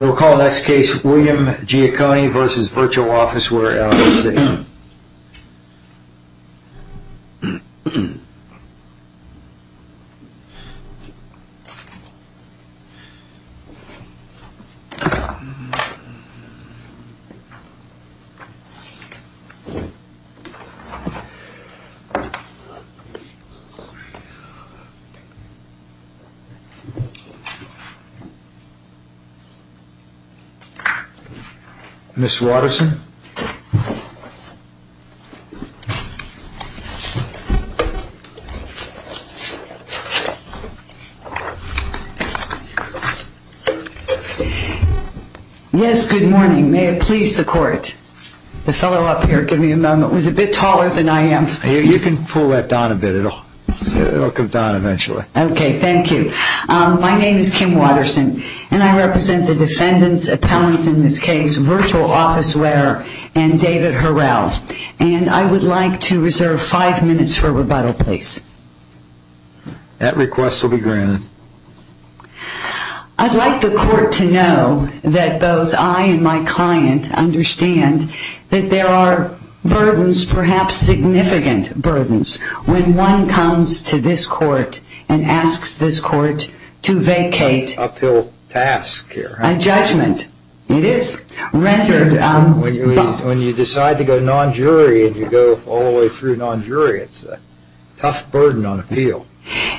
We'll call the next case William Giacone v. Virtual Officeward, LLC. Ms. Watterson. Yes, good morning. May it please the court. The fellow up here, give me a moment, was a bit taller than I am. You can pull that down a bit. It'll come down eventually. Okay, thank you. My name is Kim Watterson, and I represent the defendants, appellants in this case, Virtual Officeware, and David Harrell. And I would like to reserve five minutes for rebuttal, please. That request will be granted. I'd like the court to know that both I and my client understand that there are burdens, perhaps significant burdens, when one comes to this court and asks this court to vacate. An uphill task here. A judgment. It is. When you decide to go non-jury and you go all the way through non-jury, it's a tough burden on appeal.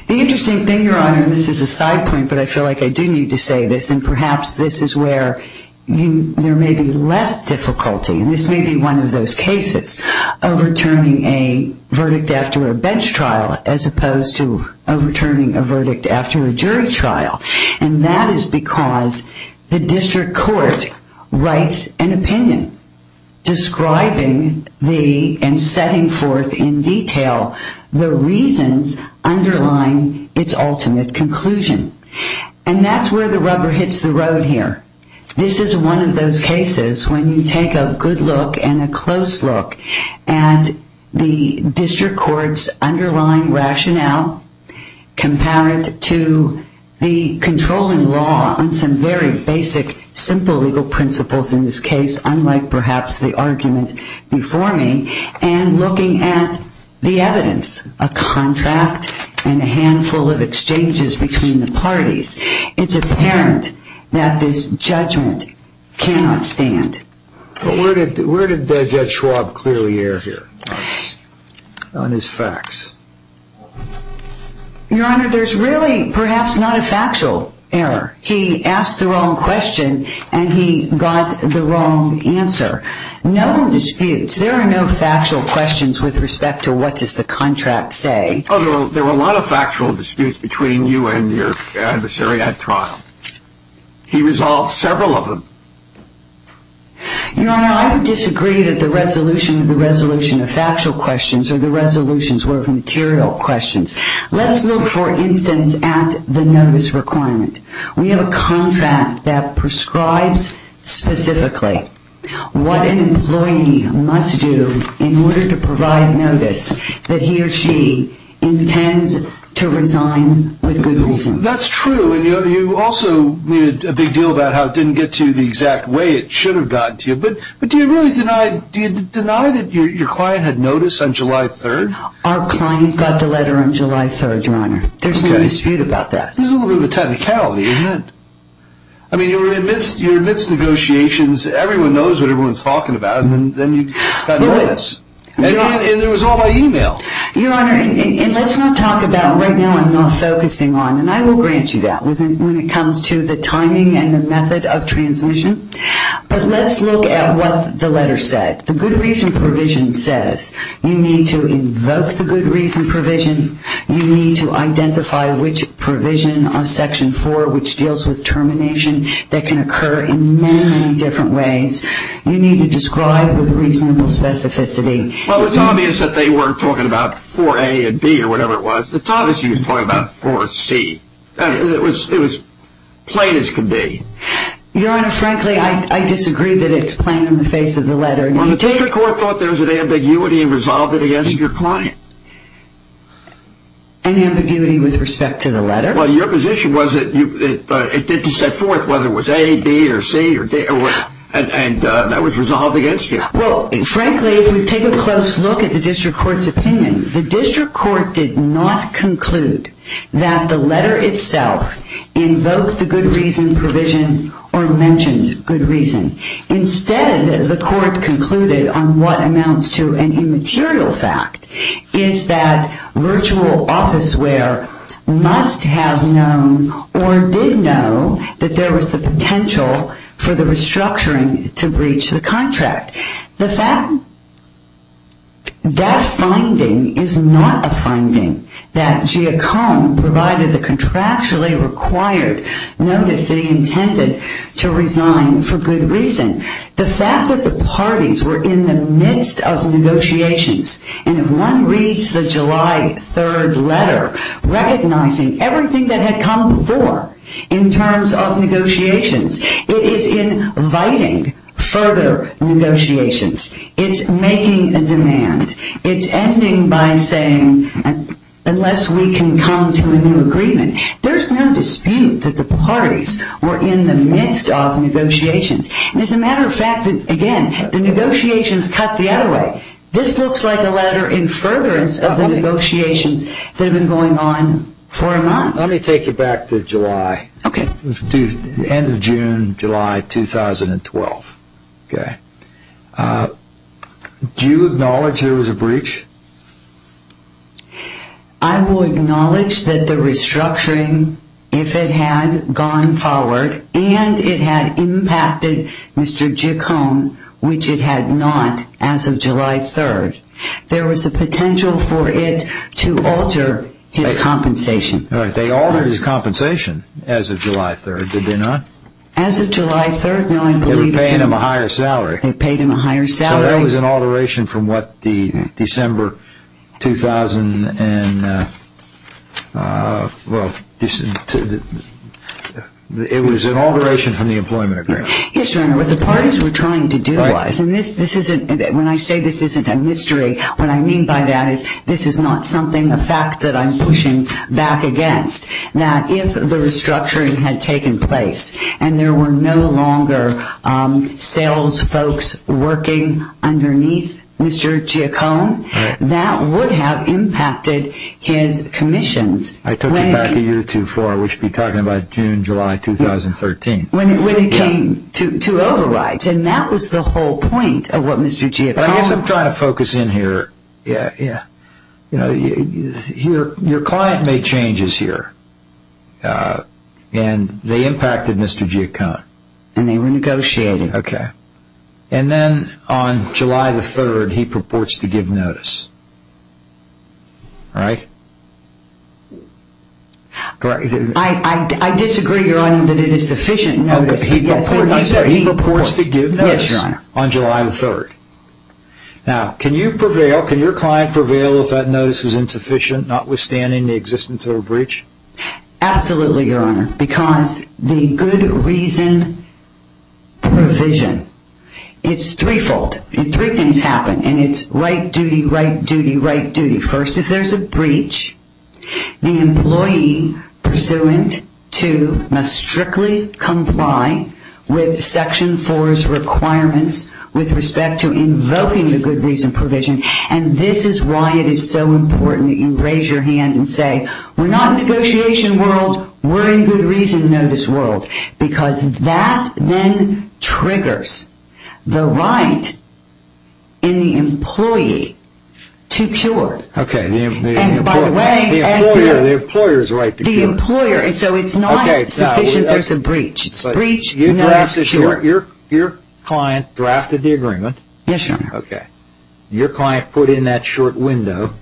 The interesting thing, Your Honor, and this is a side point, but I feel like I do need to say this, and perhaps this is where there may be less difficulty. This may be one of those cases, overturning a verdict after a bench trial as opposed to overturning a verdict after a jury trial. And that is because the district court writes an opinion describing and setting forth in detail the reasons underlying its ultimate conclusion. And that's where the rubber hits the road here. This is one of those cases when you take a good look and a close look at the district court's underlying rationale, compare it to the controlling law on some very basic, simple legal principles in this case, unlike perhaps the argument before me, and looking at the evidence, a contract and a handful of exchanges between the parties. It's apparent that this judgment cannot stand. But where did Judge Schwab clearly err here on his facts? Your Honor, there's really perhaps not a factual error. He asked the wrong question and he got the wrong answer. No disputes. There are no factual questions with respect to what does the contract say. There were a lot of factual disputes between you and your adversary at trial. He resolved several of them. Your Honor, I would disagree that the resolution of the resolution of factual questions or the resolutions were of material questions. Let's look, for instance, at the notice requirement. We have a contract that prescribes specifically what an employee must do in order to provide notice that he or she intends to resign with good reason. That's true. And you also made a big deal about how it didn't get to you the exact way it should have gotten to you. But do you really deny that your client had notice on July 3rd? Our client got the letter on July 3rd, Your Honor. There's no dispute about that. There's a little bit of a technicality, isn't there? I mean, you're amidst negotiations, everyone knows what everyone's talking about, and then you got notice. And it was all by email. Your Honor, and let's not talk about, right now I'm not focusing on, and I will grant you that when it comes to the timing and the method of transmission, but let's look at what the letter said. The good reason provision says you need to invoke the good reason provision, you need to identify which provision on Section 4 which deals with termination that can occur in many, many different ways. You need to describe with reasonable specificity. Well, it's obvious that they were talking about 4A and B or whatever it was. It's obvious you were talking about 4C. It was plain as can be. Your Honor, frankly, I disagree that it's plain in the face of the letter. Well, the District Court thought there was an ambiguity and resolved it against your client. An ambiguity with respect to the letter? Well, your position was that it did set forth whether it was A, B, or C, and that was resolved against you. Well, frankly, if we take a close look at the District Court's opinion, the District Court did not conclude that the letter itself invoked the good reason provision or mentioned good reason. Instead, the Court concluded on what amounts to an immaterial fact, is that virtual office wear must have known or did know that there was the potential for the restructuring to breach the contract. That finding is not a finding that Giacomo provided the contractually required notice that he intended to resign for good reason. The fact that the parties were in the midst of negotiations and if one reads the July 3rd letter recognizing everything that had come before in terms of negotiations, it is inviting further negotiations. It's making a demand. It's ending by saying, unless we can come to a new agreement. There's no dispute that the parties were in the midst of negotiations. As a matter of fact, again, the negotiations cut the other way. This looks like a letter in furtherance of the negotiations that have been going on for a month. Let me take you back to July. Okay. End of June, July 2012. Okay. Do you acknowledge there was a breach? I will acknowledge that the restructuring, if it had gone forward and it had impacted Mr. Giacomo, which it had not as of July 3rd, there was a potential for it to alter his compensation. All right. They altered his compensation as of July 3rd, did they not? As of July 3rd, no. They were paying him a higher salary. They paid him a higher salary. So that was an alteration from what the December 2000, well, it was an alteration from the employment agreement. Yes, Your Honor. What the parties were trying to do was, and this isn't, when I say this isn't a mystery, what I mean by that is this is not something, a fact that I'm pushing back against, that if the restructuring had taken place and there were no longer sales folks working underneath Mr. Giacomo, that would have impacted his commissions. I took you back a year too far. We should be talking about June, July 2013. When it came to overwrite, and that was the whole point of what Mr. Giacomo. I guess I'm trying to focus in here. Your client made changes here, and they impacted Mr. Giacomo. And they were negotiating. Okay. And then on July 3rd, he purports to give notice, right? I disagree, Your Honor, that it is sufficient notice. He purports to give notice on July 3rd. Now, can you prevail, can your client prevail if that notice was insufficient, notwithstanding the existence of a breach? Absolutely, Your Honor, because the good reason provision, it's threefold. Three things happen, and it's right duty, right duty, right duty. First, if there's a breach, the employee pursuant to must strictly comply with Section 4's requirements with respect to invoking the good reason provision. And this is why it is so important that you raise your hand and say, we're not in negotiation world, we're in good reason notice world, because that then triggers the right in the employee to cure. Okay. And by the way, as the employer, so it's not sufficient there's a breach. Your client drafted the agreement. Yes, Your Honor. Okay. Your client put in that short window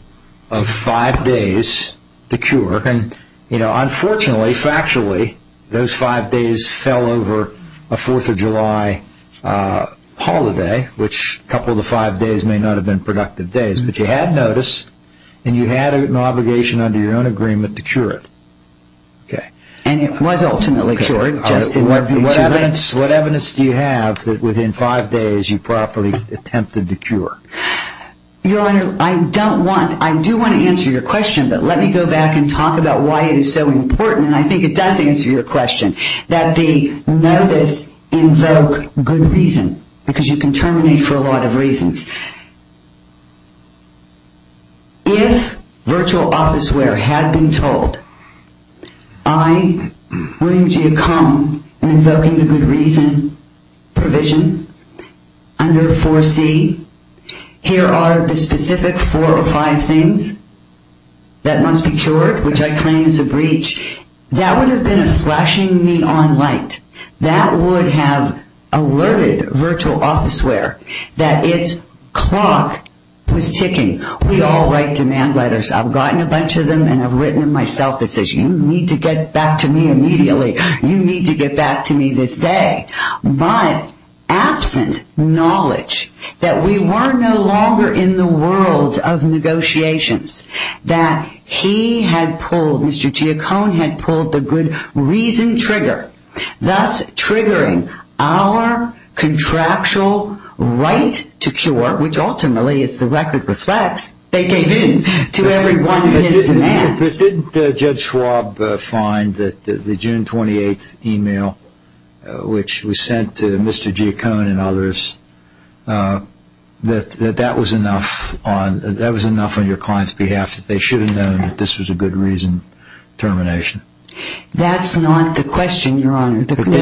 of five days to cure, and unfortunately, factually, those five days fell over a Fourth of July holiday, which a couple of the five days may not have been productive days, but you had notice, and you had an obligation under your own agreement to cure it. Okay. And it was ultimately cured. What evidence do you have that within five days you properly attempted to cure? Your Honor, I don't want, I do want to answer your question, but let me go back and talk about why it is so important, and I think it does answer your question, that the notice invoke good reason, because you can terminate for a lot of reasons. If virtual officeware had been told, I want you to come and invoke the good reason provision under 4C. Here are the specific four or five things that must be cured, which I claim is a breach. That would have been a flashing neon light. That would have alerted virtual officeware that its clock was ticking. We all write demand letters. I've gotten a bunch of them and have written them myself that says, you need to get back to me immediately. You need to get back to me this day. But absent knowledge that we were no longer in the world of negotiations, that he had pulled, Mr. Giacone had pulled the good reason trigger, thus triggering our contractual right to cure, which ultimately, as the record reflects, they gave in to every one of his demands. Didn't Judge Schwab find that the June 28th email, which was sent to Mr. Giacone and others, that that was enough on your client's behalf that they should have known that this was a good reason termination? That's not the question, Your Honor. Didn't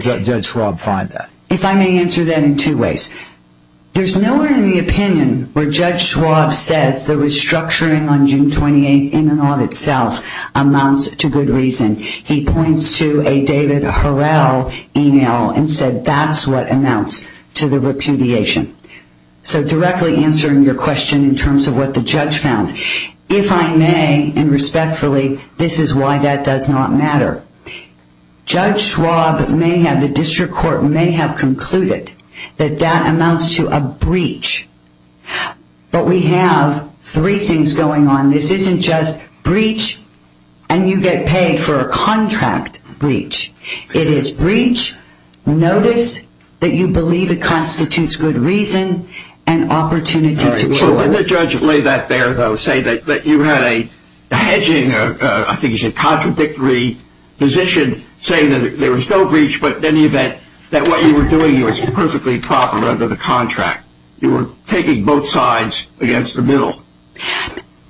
Judge Schwab find that? If I may answer that in two ways. There's nowhere in the opinion where Judge Schwab says the restructuring on June 28th in and of itself amounts to good reason. He points to a David Harrell email and said that's what amounts to the repudiation. So directly answering your question in terms of what the judge found. If I may, and respectfully, this is why that does not matter. Judge Schwab may have, the district court may have concluded that that amounts to a breach. But we have three things going on. And this isn't just breach and you get paid for a contract breach. It is breach, notice that you believe it constitutes good reason, and opportunity to rule. Didn't the judge lay that bare, though, say that you had a hedging, I think he said contradictory position, saying that there was no breach but in any event that what you were doing was perfectly proper under the contract. You were taking both sides against the middle.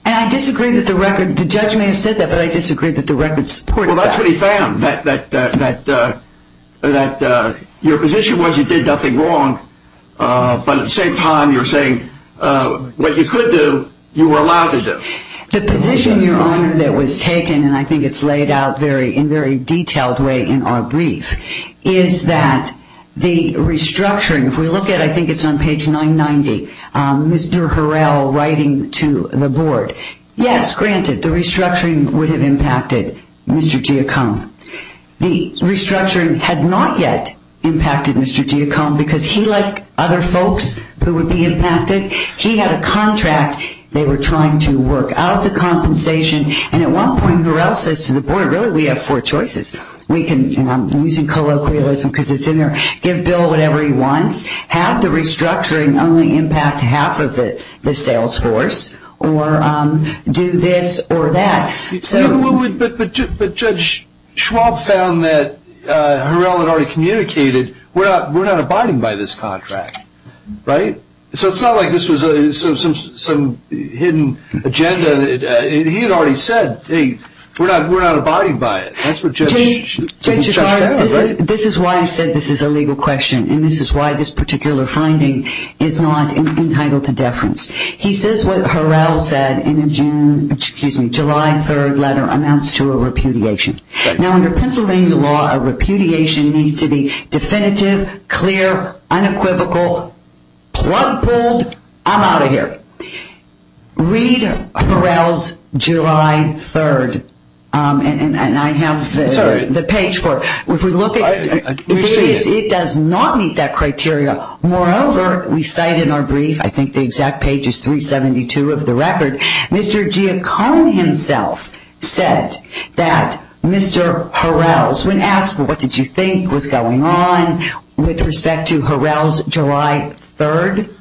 And I disagree that the record, the judge may have said that, but I disagree that the record supports that. Well, that's what he found, that your position was you did nothing wrong, but at the same time you're saying what you could do, you were allowed to do. The position, Your Honor, that was taken, and I think it's laid out in a very detailed way in our brief, is that the restructuring, if we look at, I think it's on page 990, Mr. Harrell writing to the board, yes, granted, the restructuring would have impacted Mr. Giacome. The restructuring had not yet impacted Mr. Giacome because he, like other folks who would be impacted, he had a contract they were trying to work out the compensation, and at one point Harrell says to the board, really, we have four choices. We can, and I'm using colloquialism because it's in there, give Bill whatever he wants, have the restructuring only impact half of the sales force, or do this or that. But Judge Schwab found that Harrell had already communicated, we're not abiding by this contract, right? So it's not like this was some hidden agenda. He had already said, hey, we're not abiding by it. Judge Chigars, this is why I said this is a legal question, and this is why this particular finding is not entitled to deference. He says what Harrell said in a July 3rd letter amounts to a repudiation. Now, under Pennsylvania law, a repudiation needs to be definitive, clear, unequivocal, plug pulled, I'm out of here. Read Harrell's July 3rd, and I have the page for it. If we look at it, it does not meet that criteria. Moreover, we cite in our brief, I think the exact page is 372 of the record, Mr. Giacomo himself said that Mr. Harrell, when asked what did you think was going on with respect to Harrell's July 3rd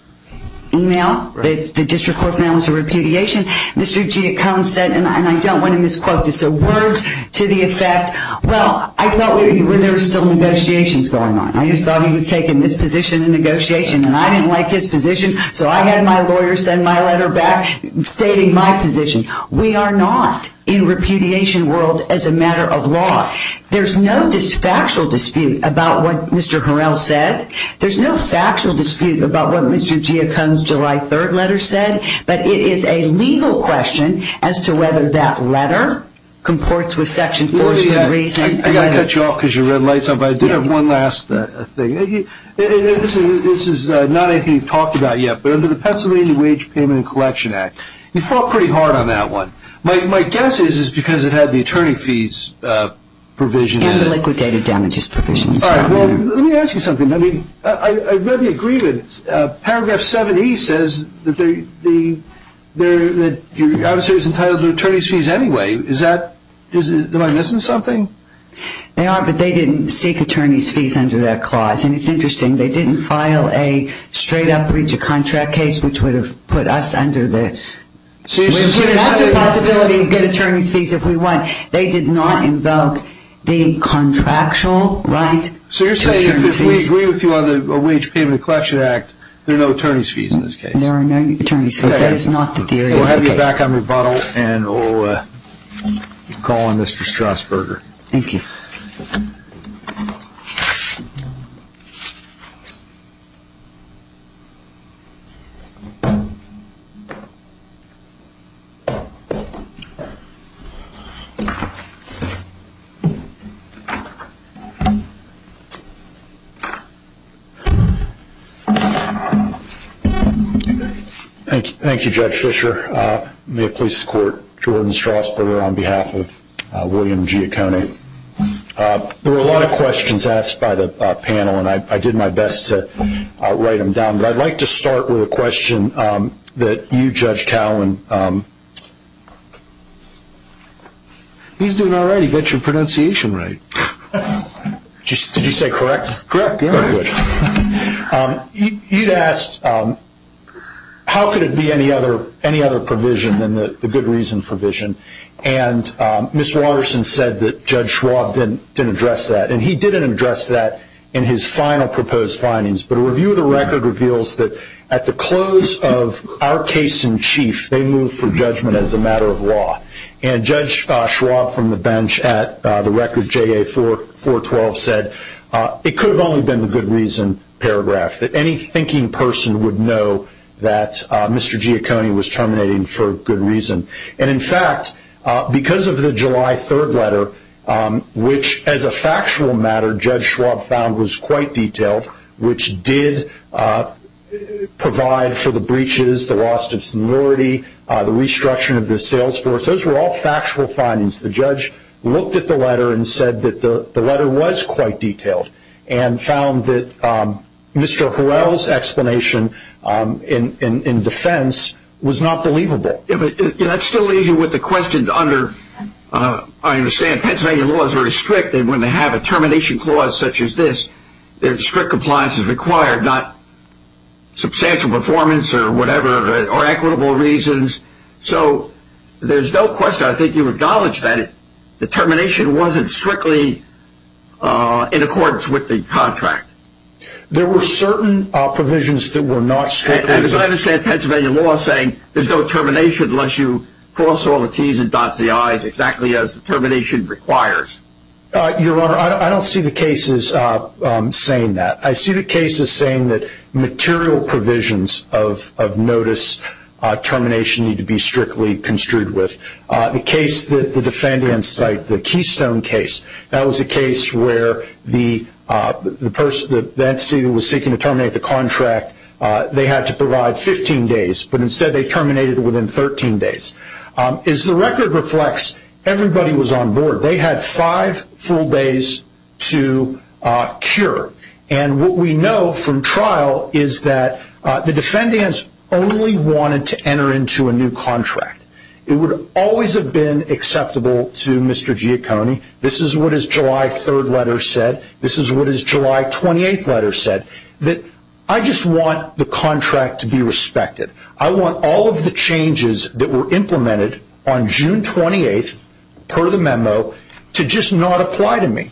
email, the district court announced a repudiation, Mr. Giacomo said, and I don't want to misquote this, so words to the effect, well, I thought there were still negotiations going on. I just thought he was taking this position in negotiation, and I didn't like his position, so I had my lawyer send my letter back stating my position. We are not in repudiation world as a matter of law. There's no factual dispute about what Mr. Harrell said. There's no factual dispute about what Mr. Giacomo's July 3rd letter said, but it is a legal question as to whether that letter comports with Section 403. I've got to cut you off because your red light is on, but I do have one last thing. This is not anything you've talked about yet, but under the Pennsylvania Wage Payment and Collection Act, you fought pretty hard on that one. My guess is because it had the attorney fees provision in it. And the liquidated damages provision. All right. Well, let me ask you something. I read the agreement. Paragraph 70 says that your adversary is entitled to attorney's fees anyway. Am I missing something? They are, but they didn't seek attorney's fees under that clause. And it's interesting. They didn't file a straight-up breach of contract case, which would have put us under the ‑‑ which would have given us the possibility to get attorney's fees if we want. But they did not invoke the contractual right to attorney's fees. So you're saying if we agree with you on the Wage Payment and Collection Act, there are no attorney's fees in this case. There are no attorney's fees. That is not the theory of the case. We'll have you back on rebuttal, and we'll call on Mr. Strasburger. Thank you. Thank you, Judge Fischer. May it please the Court, Jordan Strasburger on behalf of William Giacconi. There were a lot of questions asked by the panel, and I did my best to write them down. But I'd like to start with a question that you, Judge Cowan. He's doing all right. He got your pronunciation right. Did you say correct? Correct. You'd asked how could it be any other provision than the good reason provision. And Ms. Waterson said that Judge Schwab didn't address that, and he didn't address that in his final proposed findings. But a review of the record reveals that at the close of our case in chief, they moved for judgment as a matter of law. And Judge Schwab from the bench at the record, JA 412, said it could have only been the good reason paragraph, that any thinking person would know that Mr. Giacconi was terminating for good reason. And in fact, because of the July 3rd letter, which as a factual matter, Judge Schwab found was quite detailed, which did provide for the breaches, the loss of seniority, the restructuring of the sales force. Those were all factual findings. The judge looked at the letter and said that the letter was quite detailed and found that Mr. Horrell's explanation in defense was not believable. That still leaves you with the question under, I understand, Pennsylvania laws are very strict, and when they have a termination clause such as this, strict compliance is required, not substantial performance or whatever, or equitable reasons. So there's no question, I think you acknowledge that, the termination wasn't strictly in accordance with the contract. There were certain provisions that were not strictly. And as I understand, Pennsylvania law is saying there's no termination unless you cross all the T's and dot the I's, exactly as termination requires. Your Honor, I don't see the cases saying that. I see the cases saying that material provisions of notice termination need to be strictly construed with. The case that the defendants cite, the Keystone case, that was a case where the entity that was seeking to terminate the contract, they had to provide 15 days, but instead they terminated within 13 days. As the record reflects, everybody was on board. They had five full days to cure. And what we know from trial is that the defendants only wanted to enter into a new contract. It would always have been acceptable to Mr. Giacconi, this is what his July 3rd letter said, this is what his July 28th letter said, that I just want the contract to be respected. I want all of the changes that were implemented on June 28th, per the memo, to just not apply to me.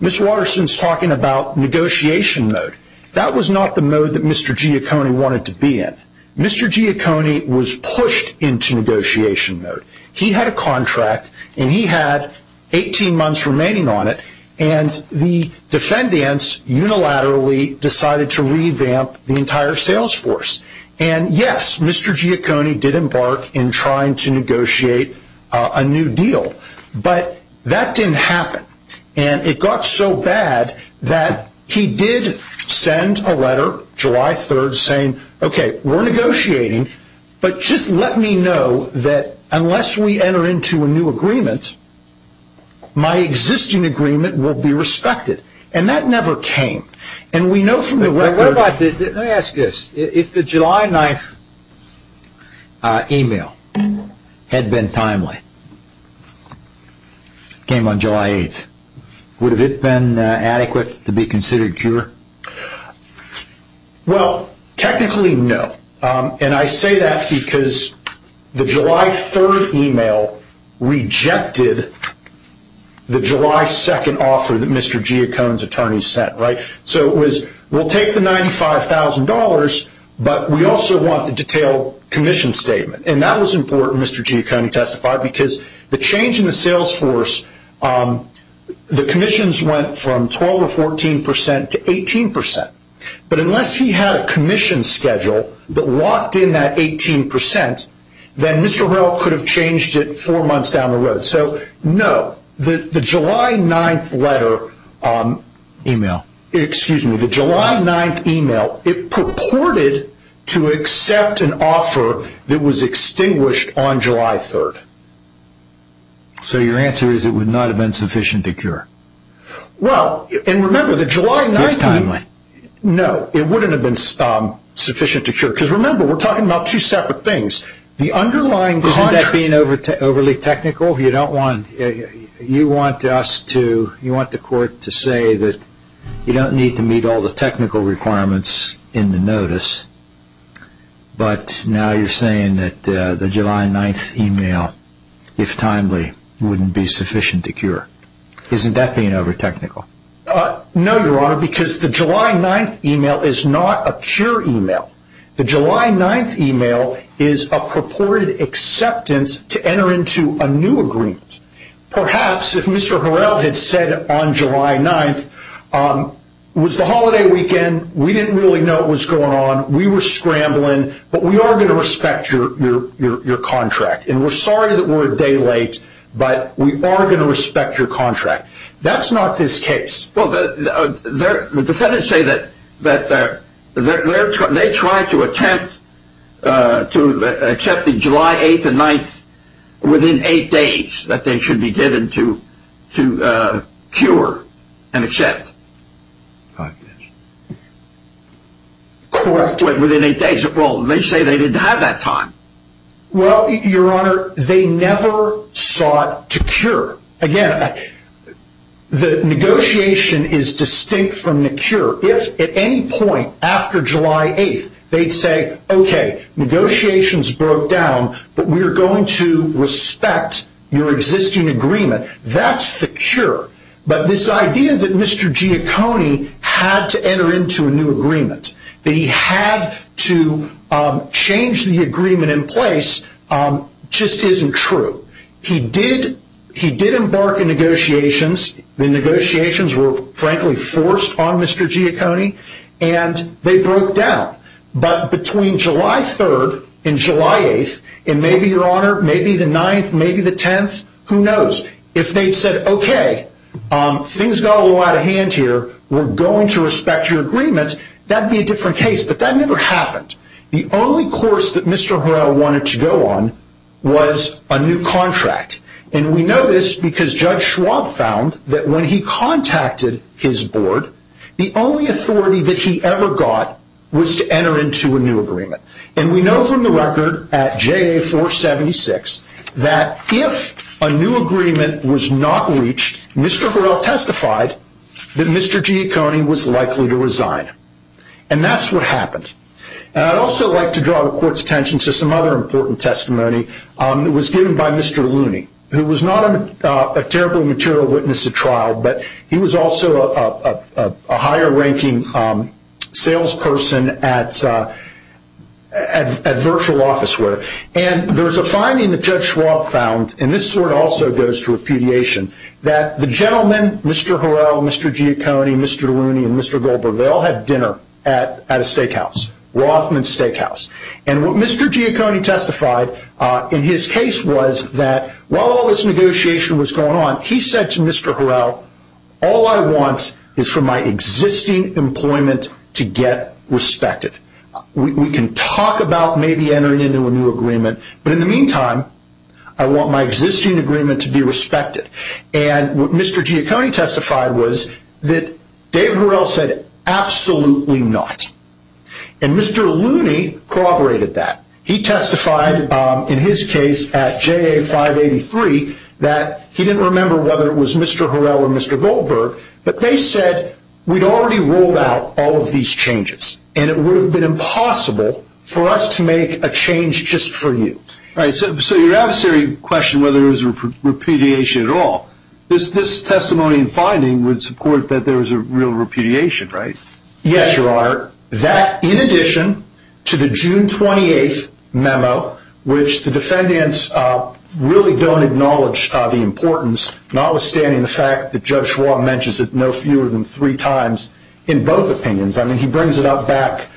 Ms. Waterson's talking about negotiation mode. That was not the mode that Mr. Giacconi wanted to be in. Mr. Giacconi was pushed into negotiation mode. He had a contract, and he had 18 months remaining on it, and the defendants unilaterally decided to revamp the entire sales force. And yes, Mr. Giacconi did embark in trying to negotiate a new deal, but that didn't happen. And it got so bad that he did send a letter July 3rd saying, okay, we're negotiating, but just let me know that unless we enter into a new agreement, my existing agreement will be respected. And that never came. Let me ask this. If the July 9th email had been timely, came on July 8th, would it have been adequate to be considered pure? Well, technically, no. And I say that because the July 3rd email rejected the July 2nd offer that Mr. Giacconi's attorney sent. So it was, we'll take the $95,000, but we also want the detailed commission statement. And that was important, Mr. Giacconi testified, because the change in the sales force, the commissions went from 12 or 14 percent to 18 percent. But unless he had a commission schedule that locked in that 18 percent, then Mr. Horrell could have changed it four months down the road. So no, the July 9th email, it purported to accept an offer that was extinguished on July 3rd. So your answer is it would not have been sufficient to cure? Well, and remember, the July 9th, no, it wouldn't have been sufficient to cure. Because remember, we're talking about two separate things. Isn't that being overly technical? You want the court to say that you don't need to meet all the technical requirements in the notice, but now you're saying that the July 9th email, if timely, wouldn't be sufficient to cure. Isn't that being over-technical? No, Your Honor, because the July 9th email is not a pure email. The July 9th email is a purported acceptance to enter into a new agreement. Perhaps if Mr. Horrell had said on July 9th, it was the holiday weekend, we didn't really know what was going on, we were scrambling, but we are going to respect your contract, and we're sorry that we're a day late, but we are going to respect your contract. That's not this case. Well, the defendants say that they're trying to attempt to accept the July 8th and 9th within eight days that they should be given to cure and accept. I guess. Correct. Within eight days. Well, they say they didn't have that time. Well, Your Honor, they never sought to cure. Again, the negotiation is distinct from the cure. If at any point after July 8th they'd say, okay, negotiations broke down, but we are going to respect your existing agreement, that's the cure. But this idea that Mr. Giacconi had to enter into a new agreement, that he had to change the agreement in place, just isn't true. He did embark in negotiations. The negotiations were, frankly, forced on Mr. Giacconi, and they broke down. But between July 3rd and July 8th, and maybe, Your Honor, maybe the 9th, maybe the 10th, who knows? If they'd said, okay, things got a little out of hand here, we're going to respect your agreement, that would be a different case, but that never happened. The only course that Mr. Harrell wanted to go on was a new contract, and we know this because Judge Schwab found that when he contacted his board, the only authority that he ever got was to enter into a new agreement. And we know from the record at JA 476 that if a new agreement was not reached, Mr. Harrell testified that Mr. Giacconi was likely to resign, and that's what happened. And I'd also like to draw the Court's attention to some other important testimony that was given by Mr. Looney, who was not a terribly material witness at trial, but he was also a higher-ranking salesperson at virtual office. And there's a finding that Judge Schwab found, and this sort of also goes to repudiation, that the gentlemen, Mr. Harrell, Mr. Giacconi, Mr. Looney, and Mr. Goldberg, they all had dinner at a steakhouse, Rothman's Steakhouse. And what Mr. Giacconi testified in his case was that while all this negotiation was going on, he said to Mr. Harrell, all I want is for my existing employment to get respected. We can talk about maybe entering into a new agreement, but in the meantime, I want my existing agreement to be respected. And what Mr. Giacconi testified was that Dave Harrell said, absolutely not. And Mr. Looney corroborated that. He testified in his case at JA 583 that he didn't remember whether it was Mr. Harrell or Mr. Goldberg, but they said we'd already ruled out all of these changes, and it would have been impossible for us to make a change just for you. So your adversary questioned whether there was repudiation at all. This testimony and finding would support that there was a real repudiation, right? Yes, Your Honor. That, in addition to the June 28th memo, which the defendants really don't acknowledge the importance, notwithstanding the fact that Judge Schwab mentions it no fewer than three times in both opinions. I mean, he brings it up back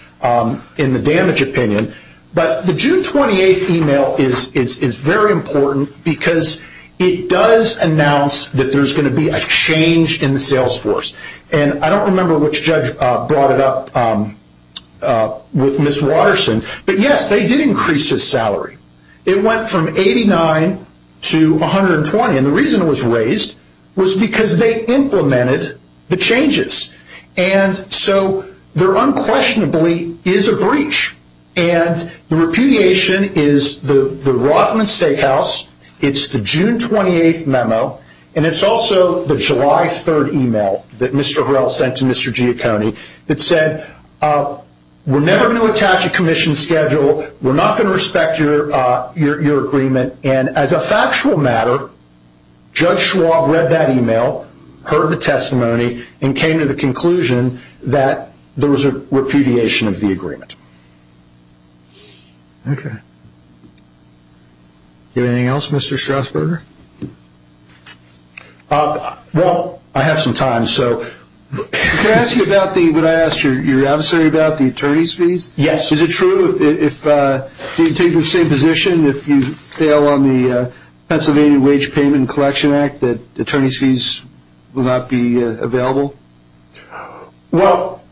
in the damage opinion. But the June 28th email is very important because it does announce that there's going to be a change in the sales force. And I don't remember which judge brought it up with Ms. Waterson, but, yes, they did increase his salary. It went from 89 to 120, and the reason it was raised was because they implemented the changes. And so there unquestionably is a breach, and the repudiation is the Rothman Steakhouse. It's the June 28th memo, and it's also the July 3rd email that Mr. Harrell sent to Mr. Giacconi that said, we're never going to attach a commission schedule. We're not going to respect your agreement. And as a factual matter, Judge Schwab read that email, heard the testimony, and came to the conclusion that there was a repudiation of the agreement. Okay. Do you have anything else, Mr. Strasburger? Well, I have some time. Can I ask you about what I asked your adversary about, the attorney's fees? Yes. Is it true if you take the same position, if you fail on the Pennsylvania Wage Payment Collection Act, that attorney's fees will not be available? Well,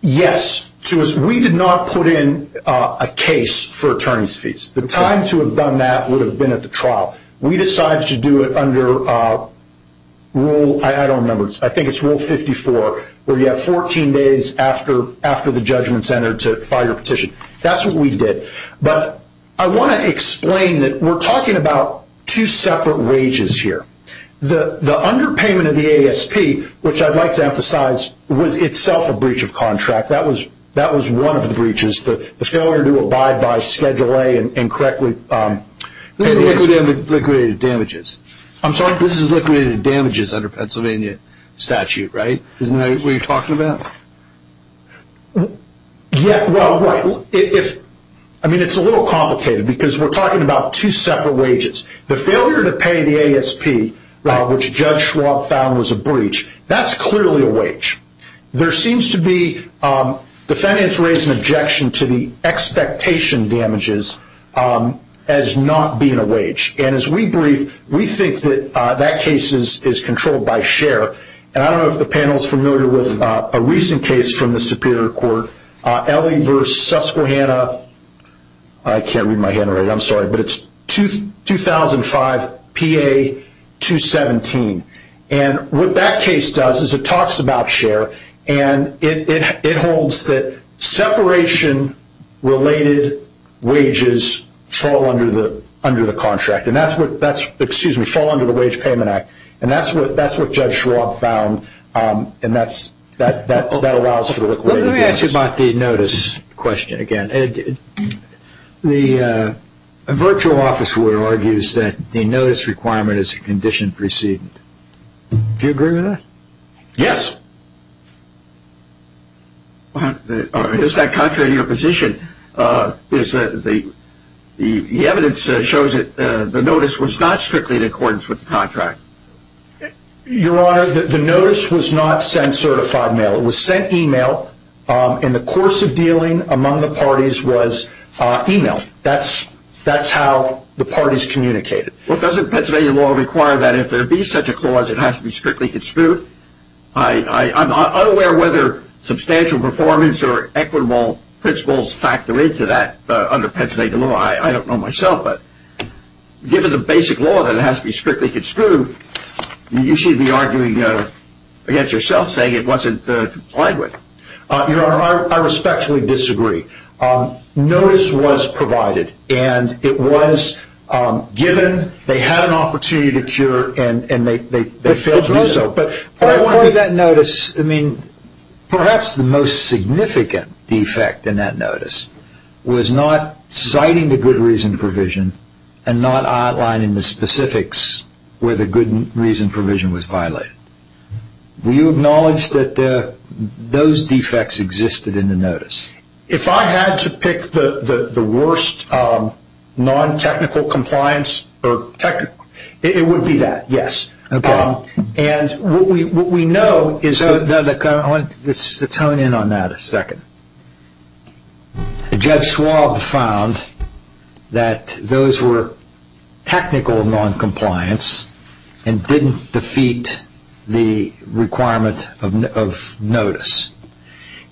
yes. We did not put in a case for attorney's fees. The time to have done that would have been at the trial. We decided to do it under Rule 54, where you have 14 days after the judgment's entered to file your petition. That's what we did. But I want to explain that we're talking about two separate wages here. The underpayment of the ASP, which I'd like to emphasize, was itself a breach of contract. That was one of the breaches, the failure to abide by Schedule A. This is liquidated damages. I'm sorry? This is liquidated damages under Pennsylvania statute, right? Isn't that what you're talking about? Yeah, well, right. I mean, it's a little complicated because we're talking about two separate wages. The failure to pay the ASP, which Judge Schwab found was a breach, that's clearly a wage. There seems to be defendants raising objection to the expectation damages as not being a wage. And as we brief, we think that that case is controlled by Scher. And I don't know if the panel is familiar with a recent case from the Superior Court, Elie v. Susquehanna. I can't read my hand right. I'm sorry. But it's 2005 PA 217. And what that case does is it talks about Scher, and it holds that separation-related wages fall under the wage payment act. And that's what Judge Schwab found, and that allows for the liquidated damages. Let me ask you about the notice question again. The virtual officer argues that the notice requirement is a condition precedent. Do you agree with that? Yes. Is that contrary to your position? The evidence shows that the notice was not strictly in accordance with the contract. Your Honor, the notice was not sent certified mail. It was sent email, and the course of dealing among the parties was email. That's how the parties communicated. Well, doesn't Pennsylvania law require that if there be such a clause, it has to be strictly construed? I'm unaware whether substantial performance or equitable principles factor into that under Pennsylvania law. I don't know myself. But given the basic law that it has to be strictly construed, you should be arguing against yourself, saying it wasn't complied with. Your Honor, I respectfully disagree. Notice was provided, and it was given. They had an opportunity to cure, and they failed to do so. But part of that notice, perhaps the most significant defect in that notice was not citing the good reason provision and not outlining the specifics where the good reason provision was violated. Do you acknowledge that those defects existed in the notice? If I had to pick the worst non-technical compliance, it would be that, yes. Okay. And what we know is that... Let's hone in on that a second. Judge Schwab found that those were technical non-compliance and didn't defeat the requirement of notice.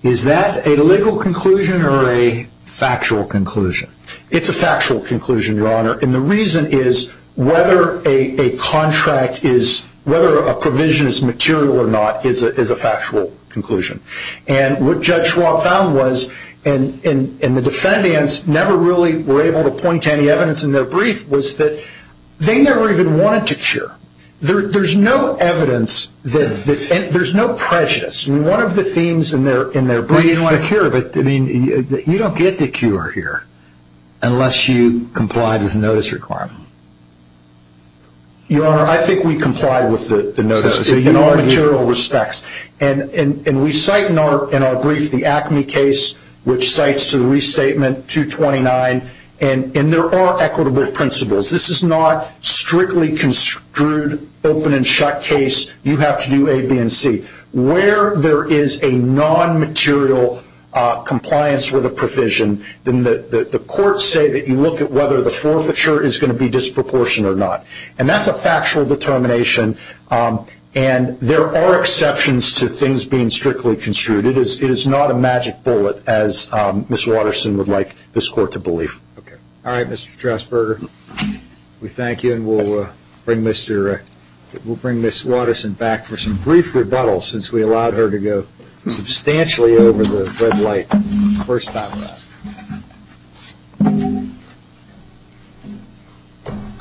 Is that a legal conclusion or a factual conclusion? It's a factual conclusion, Your Honor. And the reason is whether a provision is material or not is a factual conclusion. And what Judge Schwab found was, and the defendants never really were able to point to any evidence in their brief, was that they never even wanted to cure. There's no evidence, and there's no prejudice. One of the themes in their brief... They didn't want to cure, but you don't get the cure here unless you complied with the notice requirement. Your Honor, I think we complied with the notice in all material respects. And we cite in our brief the ACME case, which cites to the restatement 229, and there are equitable principles. This is not strictly construed open-and-shut case. You have to do A, B, and C. Where there is a non-material compliance with a provision, then the courts say that you look at whether the forfeiture is going to be disproportionate or not. And that's a factual determination. And there are exceptions to things being strictly construed. It is not a magic bullet, as Ms. Watterson would like this Court to believe. Okay. All right, Mr. Strasburger, we thank you, and we'll bring Ms. Watterson back for some brief rebuttal since we allowed her to go substantially over the red light. First stop.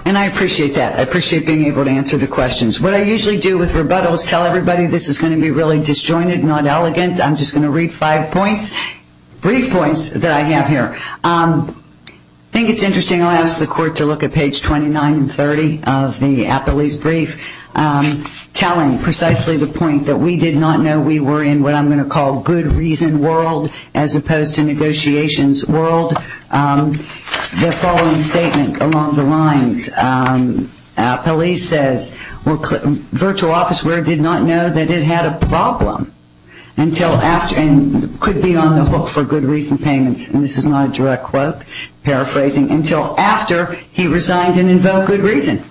And I appreciate that. I appreciate being able to answer the questions. What I usually do with rebuttals is tell everybody this is going to be really disjointed, not elegant. I'm just going to read five points, brief points that I have here. I think it's interesting. I'll ask the Court to look at page 29 and 30 of the appellee's brief, telling precisely the point that we did not know we were in what I'm going to call good reason world as opposed to negotiations world. The following statement along the lines. Appellee says, virtual office where it did not know that it had a problem and could be on the hook for good reason payments, and this is not a direct quote, paraphrasing, until after he resigned and invoked good reason.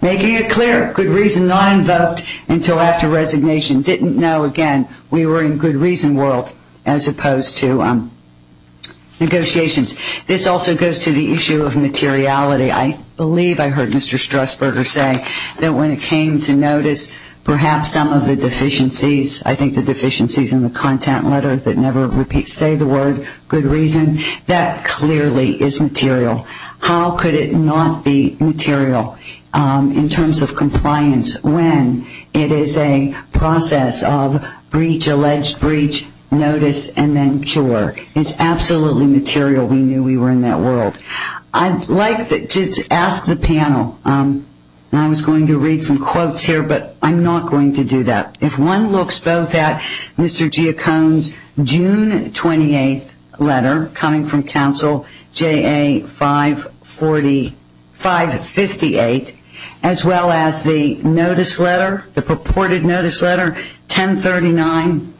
Making it clear, good reason not invoked until after resignation. Didn't know, again, we were in good reason world as opposed to negotiations. This also goes to the issue of materiality. I believe I heard Mr. Strasburger say that when it came to notice perhaps some of the deficiencies, I think the deficiencies in the content letter that never say the word good reason, that clearly is material. How could it not be material in terms of compliance when it is a process of breach, alleged breach, notice, and then cure. It's absolutely material. We knew we were in that world. I'd like to ask the panel, and I was going to read some quotes here, but I'm not going to do that. If one looks both at Mr. Geocone's June 28th letter coming from counsel, JA 558, as well as the notice letter, the purported notice letter, 1039,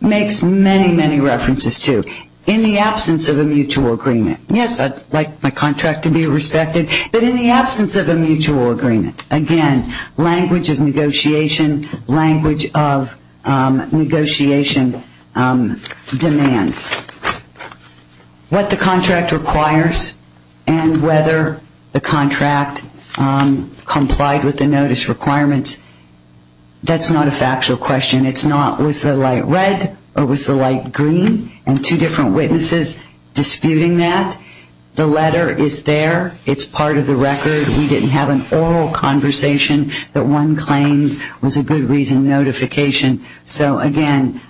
makes many, many references too. In the absence of a mutual agreement, yes, I'd like my contract to be respected, but in the absence of a mutual agreement, again, language of negotiation, language of negotiation demands. What the contract requires and whether the contract complied with the notice requirements, that's not a factual question. It's not was the light red or was the light green, and two different witnesses disputing that. The letter is there. It's part of the record. We didn't have an oral conversation that one claimed was a good reason notification. So, again,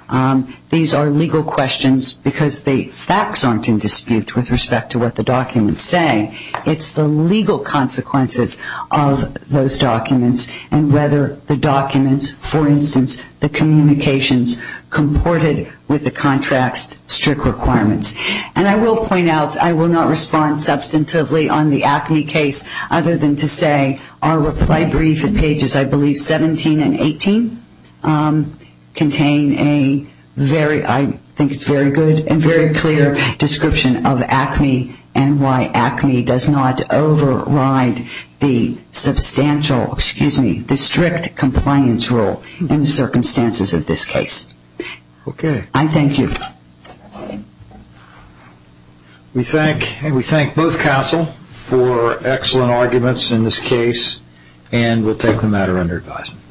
these are legal questions because the facts aren't in dispute with respect to what the documents say. It's the legal consequences of those documents and whether the documents, for instance, the communications comported with the contract's strict requirements. And I will point out, I will not respond substantively on the acne case. Other than to say our reply brief at pages, I believe, 17 and 18 contain a very, I think it's very good and very clear description of acne and why acne does not override the substantial, excuse me, the strict compliance rule in the circumstances of this case. Okay. I thank you. We thank both counsel for excellent arguments in this case, and we'll take the matter under advisement.